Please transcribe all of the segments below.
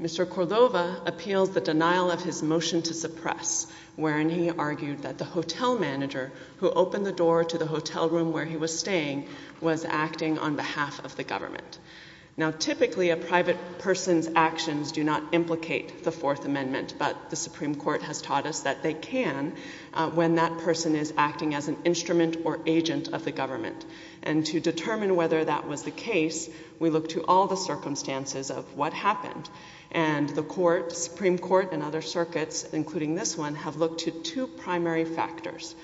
Mr. Cordova appeals the denial of his motion to suppress, wherein he argued that the hotel manager who opened the door to the hotel room where he was staying was acting on behalf of the government. Now, typically, a private person's actions do not implicate the Fourth Amendment, but the Supreme Court has taught us that they can when that person is acting as an instrument or agent of the government. And to determine whether that was the case, we look to all the circumstances of what happened. And the Supreme Court and other circuits, including this one, have looked to two primary factors.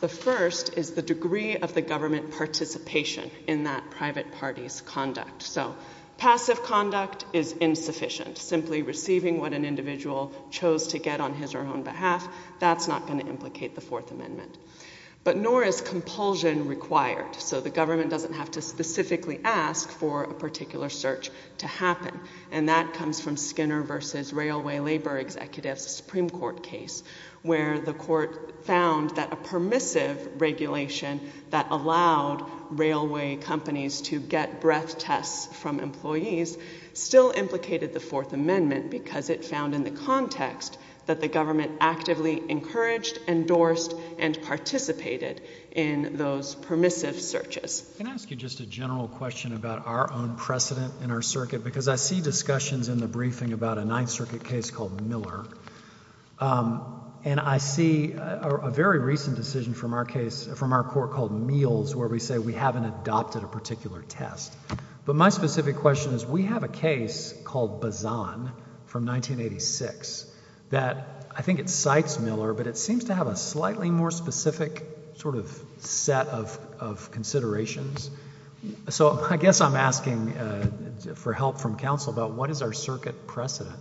The first is the degree of the government participation in that private party's conduct. So passive conduct is insufficient. Simply receiving what an individual chose to get on his or her own behalf, that's not going to implicate the Fourth Amendment. But nor is compulsion required. So the government doesn't have to specifically ask for a particular search to happen. And that comes from Skinner v. Railway Labor Executives, a Supreme Court case, where the court found that a permissive regulation that allowed railway companies to get breath tests from employees still implicated the Fourth Amendment because it found in the context that the government actively encouraged, endorsed, and participated in those permissive searches. Can I ask you just a general question about our own precedent in our circuit? Because I see discussions in the briefing about a Ninth Circuit case called Miller. And I see a very recent decision from our case, from our court called Meals, where we say we haven't adopted a particular test. But my specific question is, we have a case called Bazan from 1986 that I think it cites Miller, but it seems to have a slightly more specific sort of set of considerations. So I guess I'm asking for help from counsel about what is our circuit precedent?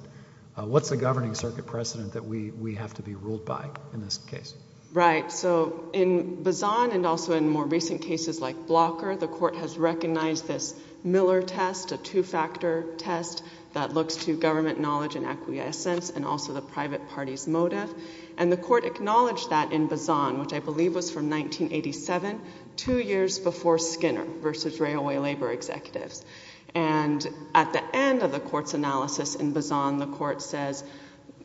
What's the governing circuit precedent that we have to be ruled by in this case? Right. So in Bazan and also in more recent cases like Blocker, the court has recognized this Miller test, a two-factor test that looks to government knowledge and acquiescence and also the private party's motive. And the court acknowledged that in Bazan, which I believe was from 1987, two years before Skinner v. Railway Labor Executives. And at the end of the court's analysis in Bazan, the court says,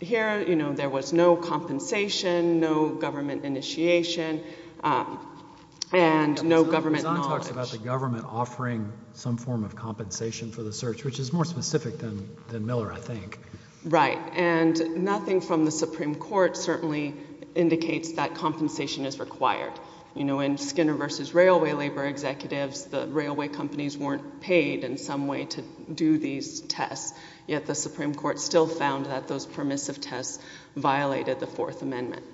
here, you know, there was no compensation, no government initiation, and no government knowledge. Bazan talks about the government offering some form of compensation for the search, which is more specific than Miller, I think. Right. And nothing from the Supreme Court certainly indicates that compensation is required. You know, in Skinner v. Railway Labor Executives, the railway companies weren't paid in some way to do these tests, yet the Supreme Court still found that those permissive tests violated the Fourth Amendment.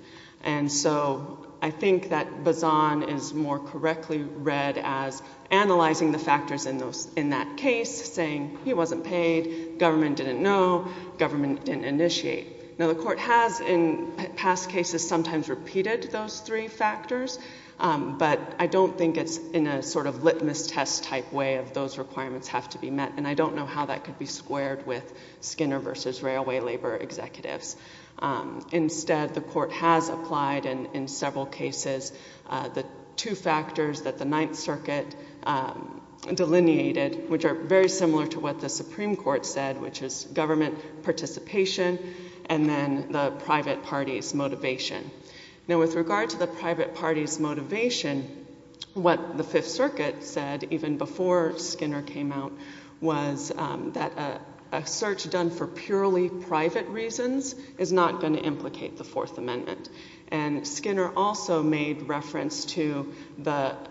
And so I think that Bazan is more correctly read as analyzing the factors in that case, saying he wasn't paid, government didn't know, government didn't initiate. Now, the court has in past cases sometimes repeated those three factors, but I don't think it's in a sort of litmus test type way of those requirements have to be met, and I don't know how that could be squared with Skinner v. Railway Labor Executives. Instead, the court has applied in several cases the two factors that the Ninth Circuit delineated, which are very similar to what the Supreme Court said, which is government participation and then the private party's motivation. Now, with regard to the private party's motivation, what the Fifth Circuit said, even before Skinner came out, was that a search done for purely private reasons is not going to implicate the Fourth Amendment, and Skinner also made reference to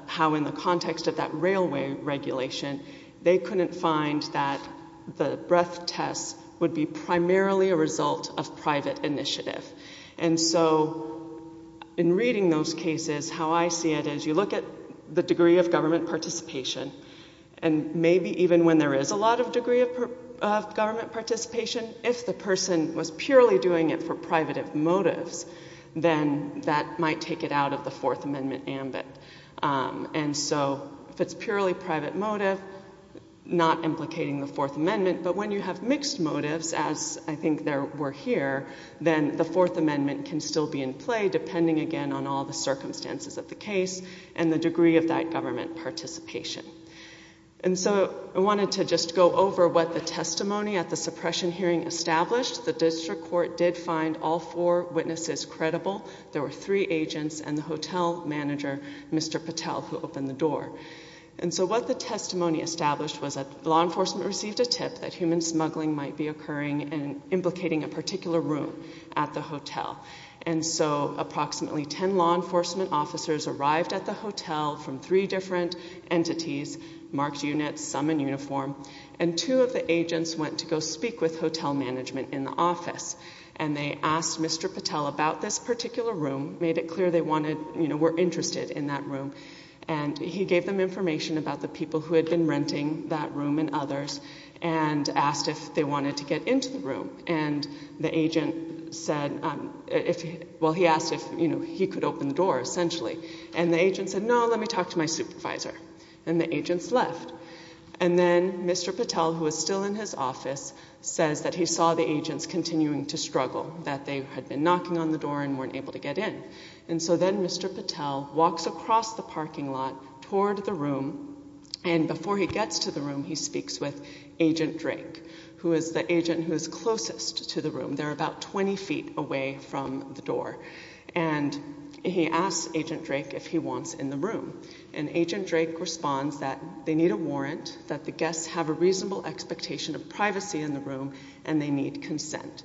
how in the context of that railway regulation, they couldn't find that the breath tests would be primarily a result of private initiative. And so in reading those cases, how I see it is you look at the degree of government participation, and maybe even when there is a lot of degree of government participation, if the person was purely doing it for private motives, then that might take it out of the Fourth Amendment ambit. And so if it's purely private motive, not implicating the Fourth Amendment, but when you have mixed motives, as I think there were here, then the Fourth Amendment can still be in play, depending again on all the circumstances of the case and the degree of that government participation. And so I wanted to just go over what the testimony at the suppression hearing established. The district court did find all four witnesses credible. There were three agents and the hotel manager, Mr. Patel, who opened the door. And so what the testimony established was that law enforcement received a tip that human smuggling might be occurring and implicating a particular room at the hotel. And so approximately ten law enforcement officers arrived at the hotel from three different entities, marked units, some in uniform, and two of the agents went to go speak with hotel management in the office. And they asked Mr. Patel about this particular room, made it clear they were interested in that room, and he gave them information about the people who had been renting that room and others, and asked if they wanted to get into the room. And the agent said, well, he asked if he could open the door, essentially. And the agent said, no, let me talk to my supervisor. And the agents left. And then Mr. Patel, who was still in his office, says that he saw the agents continuing to struggle, that they had been knocking on the door and weren't able to get in. And so then Mr. Patel walks across the parking lot toward the room, and before he gets to the room, he speaks with Agent Drake, who is the agent who is closest to the room. They're about 20 feet away from the door. And he asks Agent Drake if he wants in the room. And Agent Drake responds that they need a warrant, that the guests have a reasonable expectation of privacy in the room, and they need consent.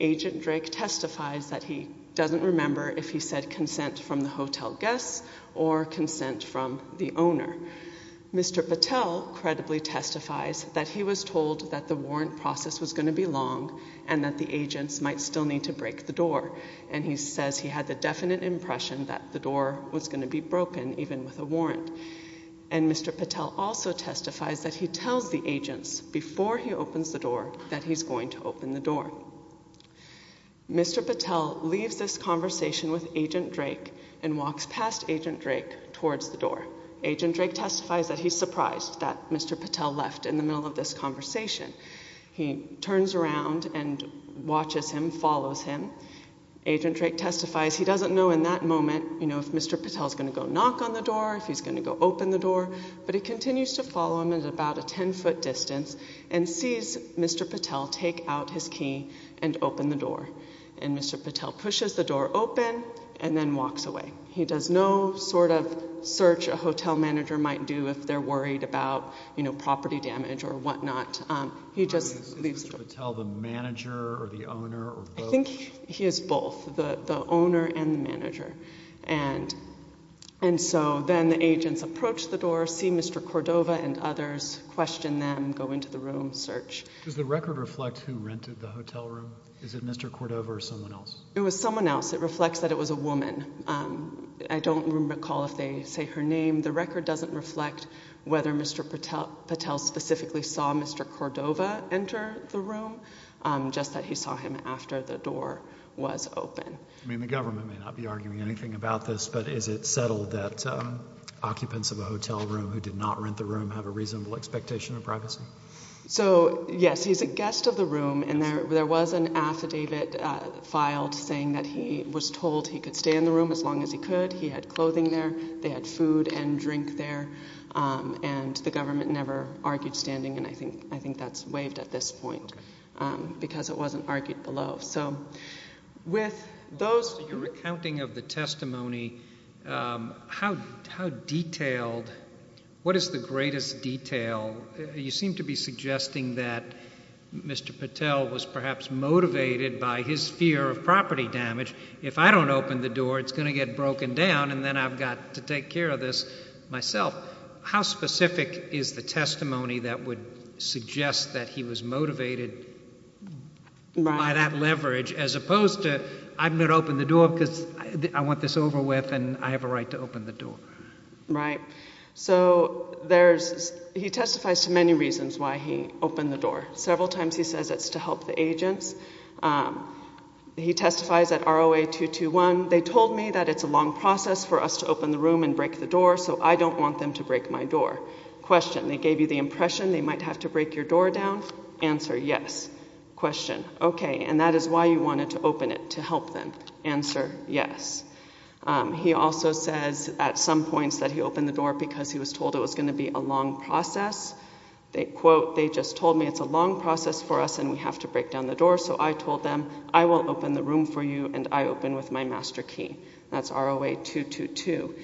Agent Drake testifies that he doesn't remember if he said consent from the hotel guests or consent from the owner. Mr. Patel credibly testifies that he was told that the warrant process was going to be long, and that the agents might still need to break the door. And he says he had the definite impression that the door was going to be broken, even with a warrant. And Mr. Patel also testifies that he tells the agents, before he opens the door, that he's going to open the door. Mr. Patel leaves this conversation with Agent Drake and walks past Agent Drake towards the door. Agent Drake testifies that he's surprised that Mr. Patel left in the middle of this conversation. He turns around and watches him, follows him. Agent Drake testifies he doesn't know in that moment, you know, if Mr. Patel is going to go knock on the door, if he's going to go open the door. But he continues to follow him at about a 10-foot distance and sees Mr. Patel take out his key and open the door. And Mr. Patel pushes the door open and then walks away. He does no sort of search a hotel manager might do if they're worried about, you know, property damage or whatnot. He just leaves the door. Is Mr. Patel the manager or the owner or both? And so then the agents approach the door, see Mr. Cordova and others, question them, go into the room, search. Does the record reflect who rented the hotel room? Is it Mr. Cordova or someone else? It was someone else. It reflects that it was a woman. I don't recall if they say her name. The record doesn't reflect whether Mr. Patel specifically saw Mr. Cordova enter the room, just that he saw him after the door was open. I mean, the government may not be arguing anything about this, but is it settled that occupants of a hotel room who did not rent the room have a reasonable expectation of privacy? So, yes, he's a guest of the room, and there was an affidavit filed saying that he was told he could stay in the room as long as he could. He had clothing there. They had food and drink there. And the government never argued standing, and I think that's waived at this point because it wasn't argued below. With your recounting of the testimony, what is the greatest detail? You seem to be suggesting that Mr. Patel was perhaps motivated by his fear of property damage. If I don't open the door, it's going to get broken down, and then I've got to take care of this myself. How specific is the testimony that would suggest that he was motivated by that leverage as opposed to I'm going to open the door because I want this over with and I have a right to open the door? Right. So he testifies to many reasons why he opened the door. Several times he says it's to help the agents. He testifies at ROA 221. They told me that it's a long process for us to open the room and break the door, so I don't want them to break my door. Question. They gave you the impression they might have to break your door down. Answer, yes. Question. Okay, and that is why you wanted to open it, to help them. Answer, yes. He also says at some points that he opened the door because he was told it was going to be a long process. They quote, they just told me it's a long process for us and we have to break down the door, so I told them I will open the room for you and I open with my master key. That's ROA 222.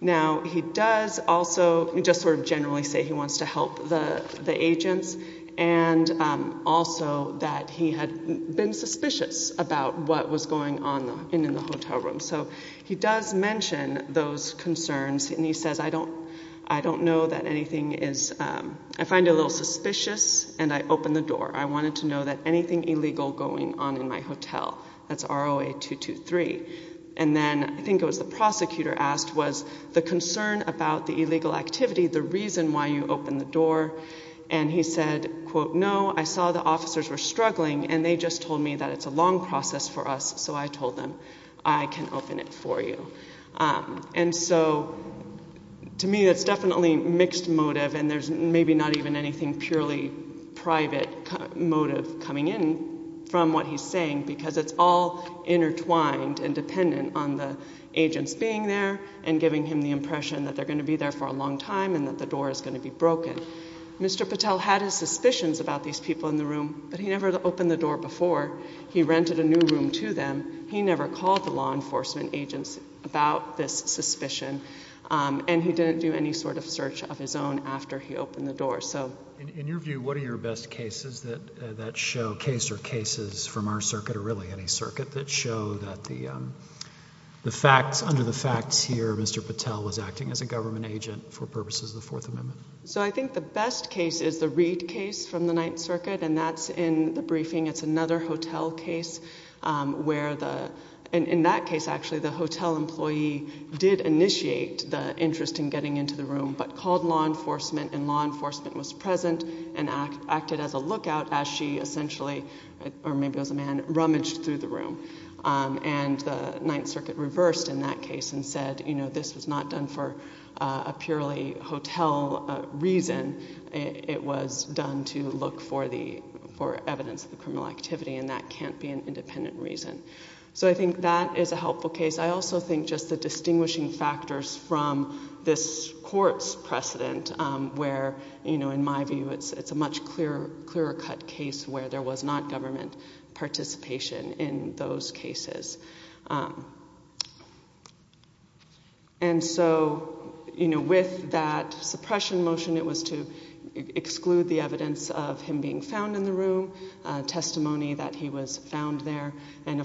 Now, he does also just sort of generally say he wants to help the agents and also that he had been suspicious about what was going on in the hotel room. So he does mention those concerns and he says I don't know that anything is, I find it a little suspicious and I open the door. I wanted to know that anything illegal going on in my hotel. That's ROA 223. And then I think it was the prosecutor asked, was the concern about the illegal activity the reason why you opened the door? And he said, quote, no, I saw the officers were struggling and they just told me that it's a long process for us. So I told them I can open it for you. And so to me that's definitely mixed motive and there's maybe not even anything purely private motive coming in from what he's saying because it's all intertwined and dependent on the agents being there and giving him the impression that they're going to be there for a long time and that the door is going to be broken. Mr. Patel had his suspicions about these people in the room, but he never opened the door before. He rented a new room to them. He never called the law enforcement agents about this suspicion. And he didn't do any sort of search of his own after he opened the door. So in your view, what are your best cases that that show case or cases from our circuit or really any circuit that show that the facts under the facts here, Mr. Patel was acting as a government agent for purposes of the Fourth Amendment. So I think the best case is the Reed case from the Ninth Circuit. And that's in the briefing. It's another hotel case where the in that case, actually, the hotel employee did initiate the interest in getting into the room, but called law enforcement. And law enforcement was present and acted as a lookout as she essentially or maybe as a man rummaged through the room. And the Ninth Circuit reversed in that case and said, you know, this was not done for a purely hotel reason. It was done to look for the for evidence of the criminal activity. And that can't be an independent reason. So I think that is a helpful case. I also think just the distinguishing factors from this court's precedent where, you know, in my view, it's a much clearer, clearer cut case where there was not government participation in those cases. And so, you know, with that suppression motion, it was to exclude the evidence of him being found in the room, testimony that he was found there. And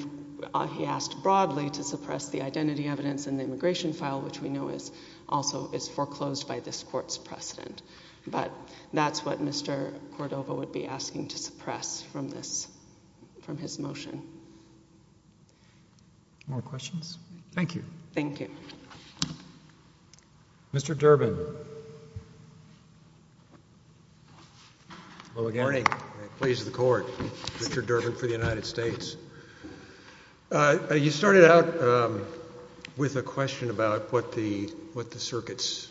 he asked broadly to suppress the identity evidence in the immigration file, which we know is also is foreclosed by this court's precedent. But that's what Mr. Cordova would be asking to suppress from this from his motion. More questions? Thank you. Thank you. Mr. Durbin. Hello again. Good morning. Please, the court. Richard Durbin for the United States. You started out with a question about what the, what the circuits,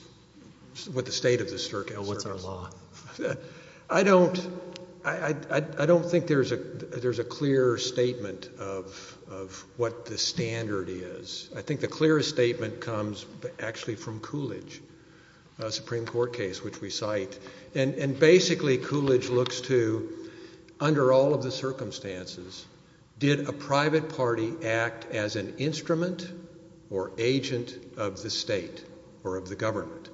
what the state of the circuit. What's our law? I don't, I don't think there's a, there's a clear statement of, of what the standard is. I think the clearest statement comes actually from Coolidge, a Supreme Court case which we cite. And basically Coolidge looks to, under all of the circumstances, did a private party act as an instrument or agent of the state or of the government?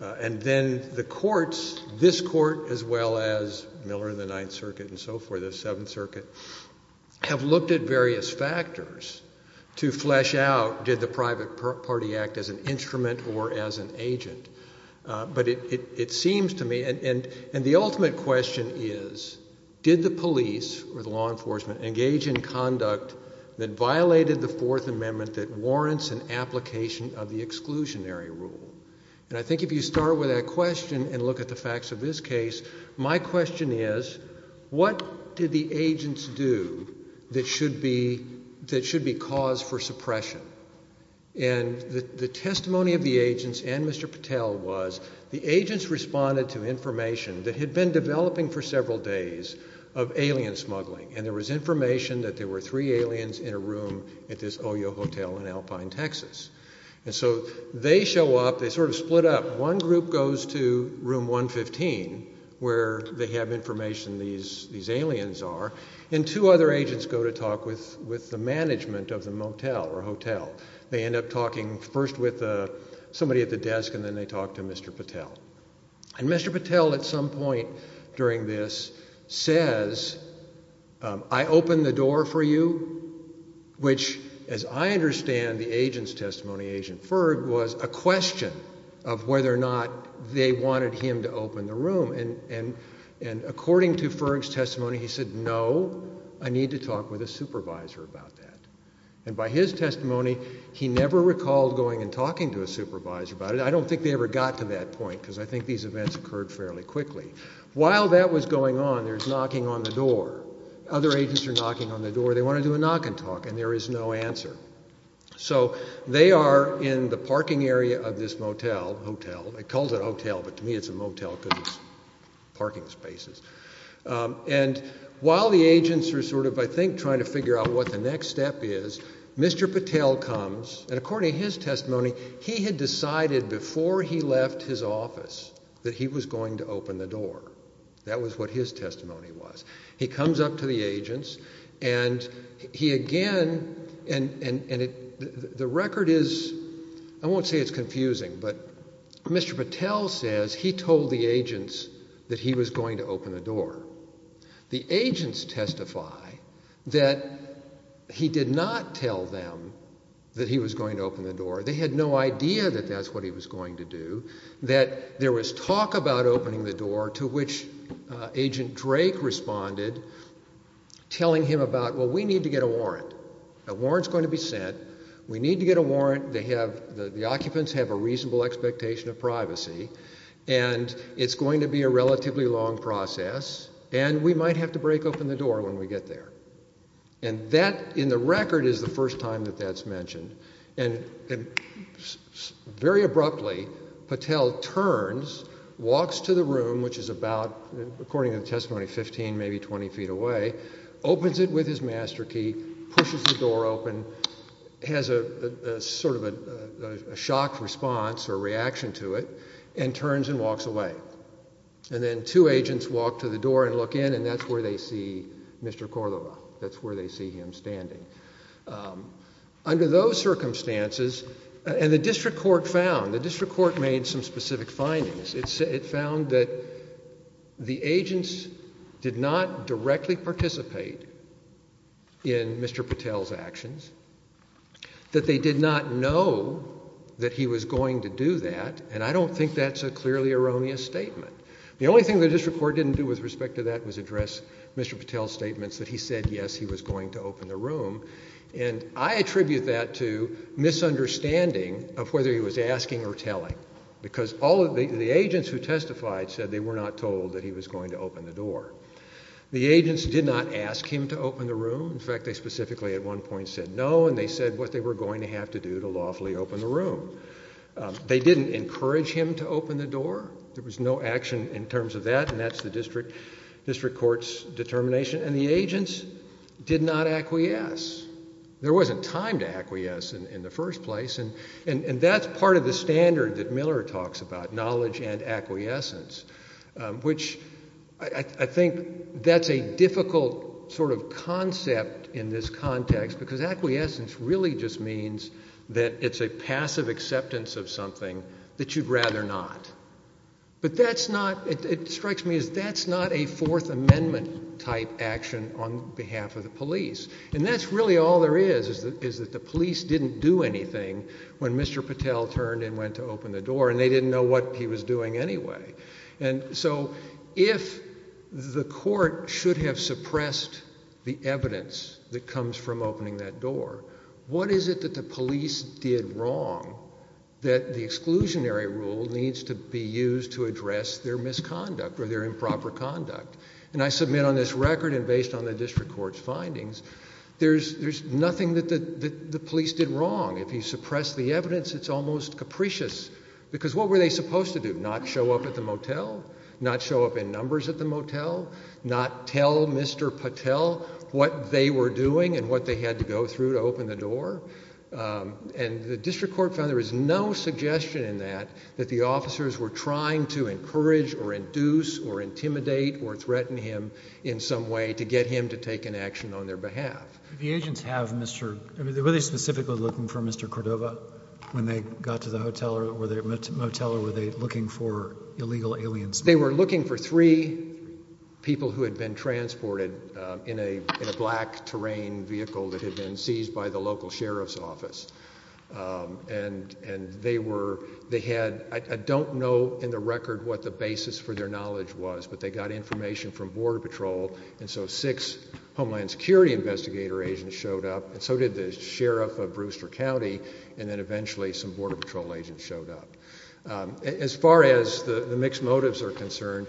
And then the courts, this court as well as Miller and the Ninth Circuit and so forth, the Seventh Circuit, have looked at various factors to flesh out, did the private party act as an instrument or as an agent? But it, it, it seems to me, and, and, and the ultimate question is, did the police or the law enforcement engage in conduct that violated the Fourth Amendment that warrants an application of the exclusionary rule? And I think if you start with that question and look at the facts of this case, my question is, what did the agents do that should be, that should be cause for suppression? And the, the testimony of the agents and Mr. Patel was, the agents responded to information that had been developing for several days of alien smuggling. And there was information that there were three aliens in a room at this OYO hotel in Alpine, Texas. And so they show up, they sort of split up. One group goes to room 115 where they have information these, these aliens are. And two other agents go to talk with, with the management of the motel or hotel. They end up talking first with somebody at the desk and then they talk to Mr. Patel. And Mr. Patel at some point during this says, I opened the door for you, which as I understand the agent's testimony, Agent Ferg, was a question of whether or not they wanted him to open the room. And, and, and according to Ferg's testimony, he said, no, I need to talk with a supervisor about that. And by his testimony, he never recalled going and talking to a supervisor about it. I don't think they ever got to that point because I think these events occurred fairly quickly. While that was going on, there's knocking on the door. Other agents are knocking on the door. They want to do a knock and talk and there is no answer. So they are in the parking area of this motel, hotel. It calls it a hotel, but to me it's a motel because it's parking spaces. And while the agents are sort of, I think, trying to figure out what the next step is, Mr. Patel comes and according to his testimony, he had decided before he left his office that he was going to open the door. That was what his testimony was. He comes up to the agents and he again, and the record is, I won't say it's confusing, but Mr. Patel says he told the agents that he was going to open the door. The agents testify that he did not tell them that he was going to open the door. They had no idea that that's what he was going to do. That there was talk about opening the door to which Agent Drake responded, telling him about, well, we need to get a warrant. A warrant's going to be sent. We need to get a warrant. The occupants have a reasonable expectation of privacy and it's going to be a relatively long process and we might have to break open the door when we get there. And that, in the record, is the first time that that's mentioned. And very abruptly, Patel turns, walks to the room, which is about, according to the testimony, 15, maybe 20 feet away, opens it with his master key, pushes the door open, has a sort of a shocked response or reaction to it, and turns and walks away. And then two agents walk to the door and look in and that's where they see Mr. Cordova. That's where they see him standing. Under those circumstances, and the district court found, the district court made some specific findings. It found that the agents did not directly participate in Mr. Patel's actions, that they did not know that he was going to do that and I don't think that's a clearly erroneous statement. The only thing the district court didn't do with respect to that was address Mr. Patel's statements that he said, yes, he was going to open the room. And I attribute that to misunderstanding of whether he was asking or telling because all of the agents who testified said they were not told that he was going to open the door. The agents did not ask him to open the room. In fact, they specifically at one point said no and they said what they were going to have to do to lawfully open the room. They didn't encourage him to open the door. There was no action in terms of that and that's the district court's determination and the agents did not acquiesce. There wasn't time to acquiesce in the first place and that's part of the standard that Miller talks about, knowledge and acquiescence, which I think that's a difficult sort of concept in this context because acquiescence really just means that it's a passive acceptance of something that you'd rather not. But that's not, it strikes me as that's not a Fourth Amendment type action on behalf of the police and that's really all there is is that the police didn't do anything when Mr. Patel turned and went to open the door and they didn't know what he was doing anyway. And so if the court should have suppressed the evidence that comes from opening that door, what is it that the police did wrong that the exclusionary rule needs to be used to address their misconduct or their improper conduct? And I submit on this record and based on the district court's findings there's nothing that the police did wrong. If you suppress the evidence it's almost capricious because what were they supposed to do? Not show up at the motel? Not show up in numbers at the motel? Not tell Mr. Patel what they were doing and what they had to go through to open the door? And the district court found there was no suggestion in that that the officers were trying to encourage or induce or intimidate or threaten him in some way to get him to take an action on their behalf. The agents have Mr. were they specifically looking for Mr. Cordova when they got to the motel or were they looking for illegal aliens? They were looking for three people who had been transported in a black terrain vehicle that had been seized by the local sheriff's office. And they were, they had I don't know in the record what the basis for their knowledge was but they got information from Border Patrol and so six Homeland Security investigator agents showed up and so did the sheriff of Brewster County and then eventually some Border Patrol agents showed up. As far as the mixed motives are concerned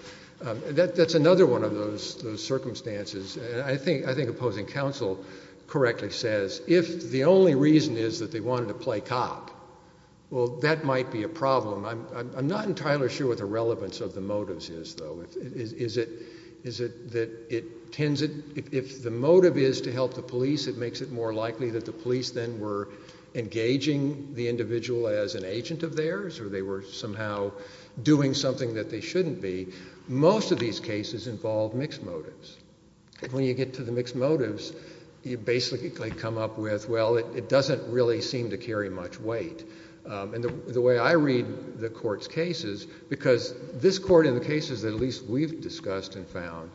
that's another one of those circumstances and I think opposing counsel correctly says if the only reason is that they wanted to play cop well that might be a problem. I'm not entirely sure what the relevance of the motives is though. Is it that it tends, if the motive is to help the police it makes it more likely that the police then were engaging the individual as an agent of theirs or they were somehow doing something that they shouldn't be. Most of these cases involve mixed motives. When you get to the mixed motives you basically come up with well it doesn't really seem to carry much weight. And the way I read the court's cases because this court in the cases that at least we've discussed and found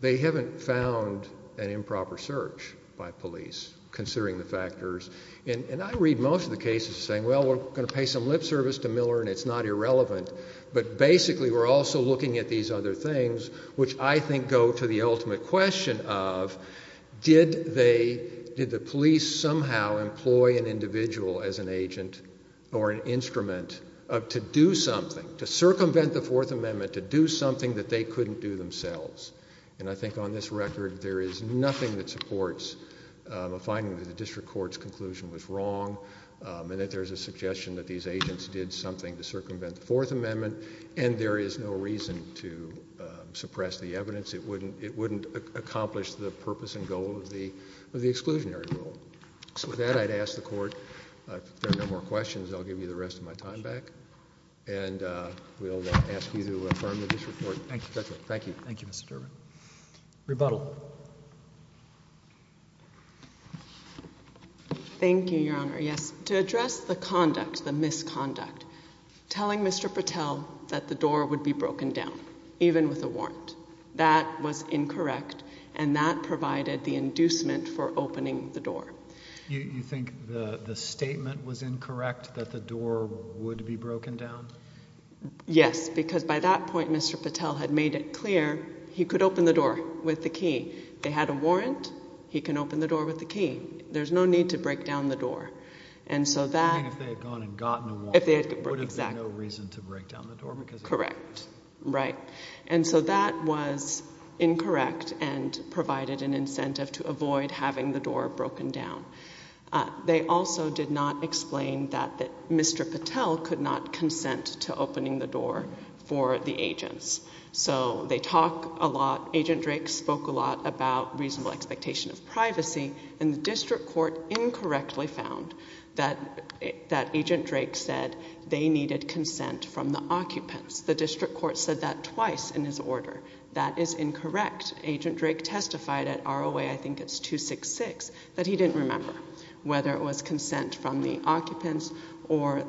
they haven't found an improper search by police considering the factors and I read most of the cases saying well we're going to pay some lip service to Miller and it's not irrelevant but basically we're also looking at these other things which I think go to the ultimate question of did they, did the police somehow employ an individual as an agent or an instrument to do something to circumvent the Fourth Amendment or did they do something that they couldn't do themselves. And I think on this record there is nothing that supports a finding that the district court's conclusion was wrong and that there's a suggestion that these agents did something to circumvent the Fourth Amendment and there is no reason to suppress the evidence. It wouldn't accomplish the purpose and goal of the exclusionary rule. So with that I'd ask the court if there are no more questions I'll give you the rest of my time back to the court. Thank you. Thank you Mr. Durbin. Rebuttal. Thank you Your Honor. Yes. To address the conduct, the misconduct telling Mr. Patel that the door would be broken down even with a warrant that was incorrect and that provided the inducement for opening the door. You think the statement was incorrect that the door would be broken down? Mr. Patel had made it clear he could open the door with the key. They had a warrant. He can open the door with the key. There's no need to break down the door. And so that... And if they had gone and gotten a warrant there would have been no reason to break down the door? Correct. Right. And so that was incorrect and provided an incentive to avoid having the door broken down. They also did not explain that Mr. Patel could not consent to opening the door so they talk a lot. Agent Drake spoke a lot about reasonable expectation of privacy and the district court incorrectly found that Agent Drake said they needed consent from the occupants. The district court said that twice in his order. That is incorrect. Agent Drake testified at ROA, I think it's 266, that he didn't remember whether it was consent from the occupants or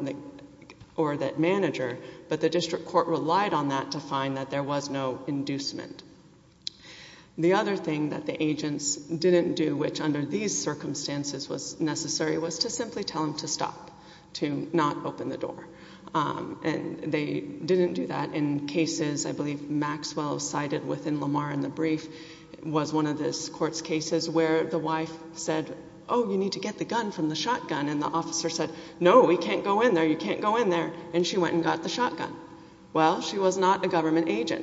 that manager but the district court relied on that and there was no inducement. The other thing that the agents didn't do which under these circumstances was necessary was to simply tell them to stop to not open the door. And they didn't do that in cases I believe Maxwell cited within Lamar in the brief was one of the court's cases where the wife said, oh you need to get the gun from the shotgun and the officer said, no we can't go in there,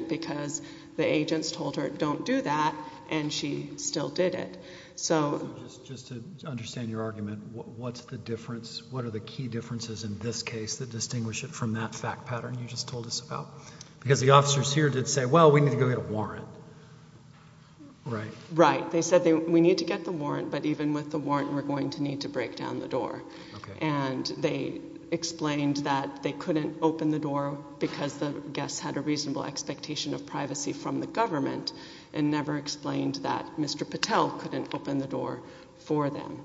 because the agents told her don't do that and she still did it. So just to understand your argument, what's the difference, what are the key differences in this case that distinguish it from that fact pattern you just told us about? Because the officers here did say, well we need to go get a warrant. Right? Right. They said we need to get the warrant but even with the warrant we're going to need to break down the door. And they explained that they couldn't open the door because the guests had a reasonable expectation of privacy from the government and never explained that Mr. Patel couldn't open the door for them.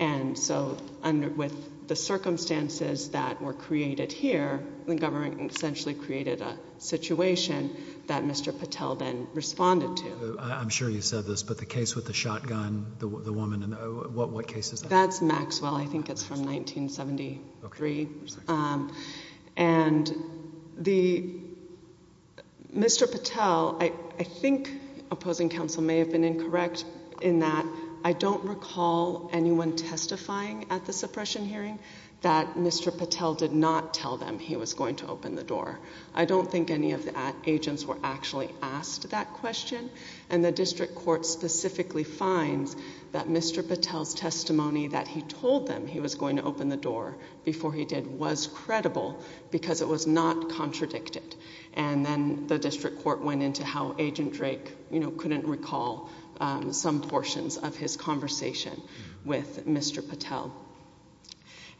And so with the circumstances that were created here, the government essentially created a situation that Mr. Patel then responded to. I'm sure you said this, but the case with the shotgun, the woman, what case is that? It's from 1973. Okay. And Mr. Patel, I think opposing counsel may have been incorrect in that I don't recall anyone testifying at the suppression hearing that Mr. Patel did not tell them he was going to open the door. I don't think any of the agents were actually asked that question and the district court specifically finds that Mr. Patel's testimony that he told them he was going to open the door before he did was credible because it was not contradicted. And then the district court went into how Agent Drake couldn't recall some portions of his conversation with Mr. Patel.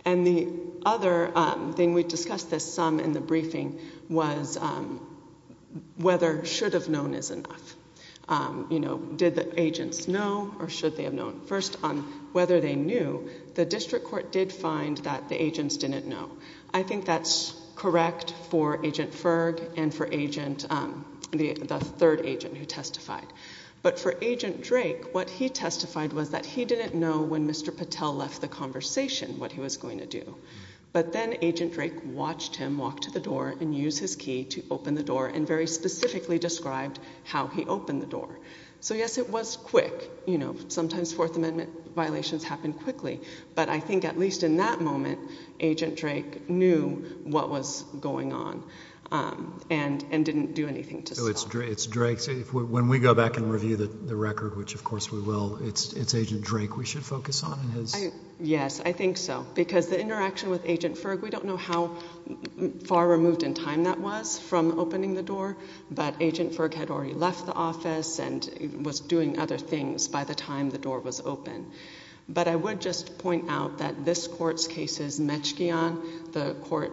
And the other thing, we discussed this some in the briefing, was whether should have known is enough. Did the agents know and if they knew, the district court did find that the agents didn't know. I think that's correct for Agent Ferg and for the third agent who testified. But for Agent Drake, what he testified was that he didn't know when Mr. Patel left the conversation what he was going to do. But then Agent Drake watched him walk to the door and use his key to open the door and very specifically described how he opened the door. So yes, it was quick. Sometimes Fourth Amendment violations happen quickly. But I think at least in that moment, Agent Drake knew what was going on and didn't do anything to stop it. It's Drake. When we go back and review the record, which of course we will, it's Agent Drake we should focus on. Yes, I think so because the interaction with Agent Ferg, we don't know how far removed in time that was from opening the door, but Agent Ferg had already left the office and was doing other things by the time the door was open. But I would just point out that this court's case is Mechgian. The court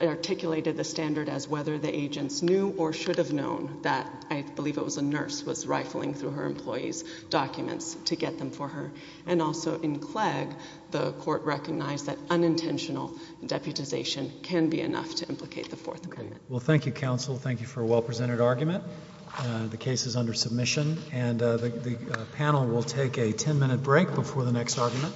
articulated the standard as whether the agents knew or should have known that I believe it was a nurse was rifling through her employee's documents to get them for her. And also in Clegg, the court recognized that unintentional deputization can be enough to implicate the Fourth Amendment. Well, thank you, counsel. Thank you for a well-presented argument. The case is under submission and the panel will take a 10-minute break before the next argument.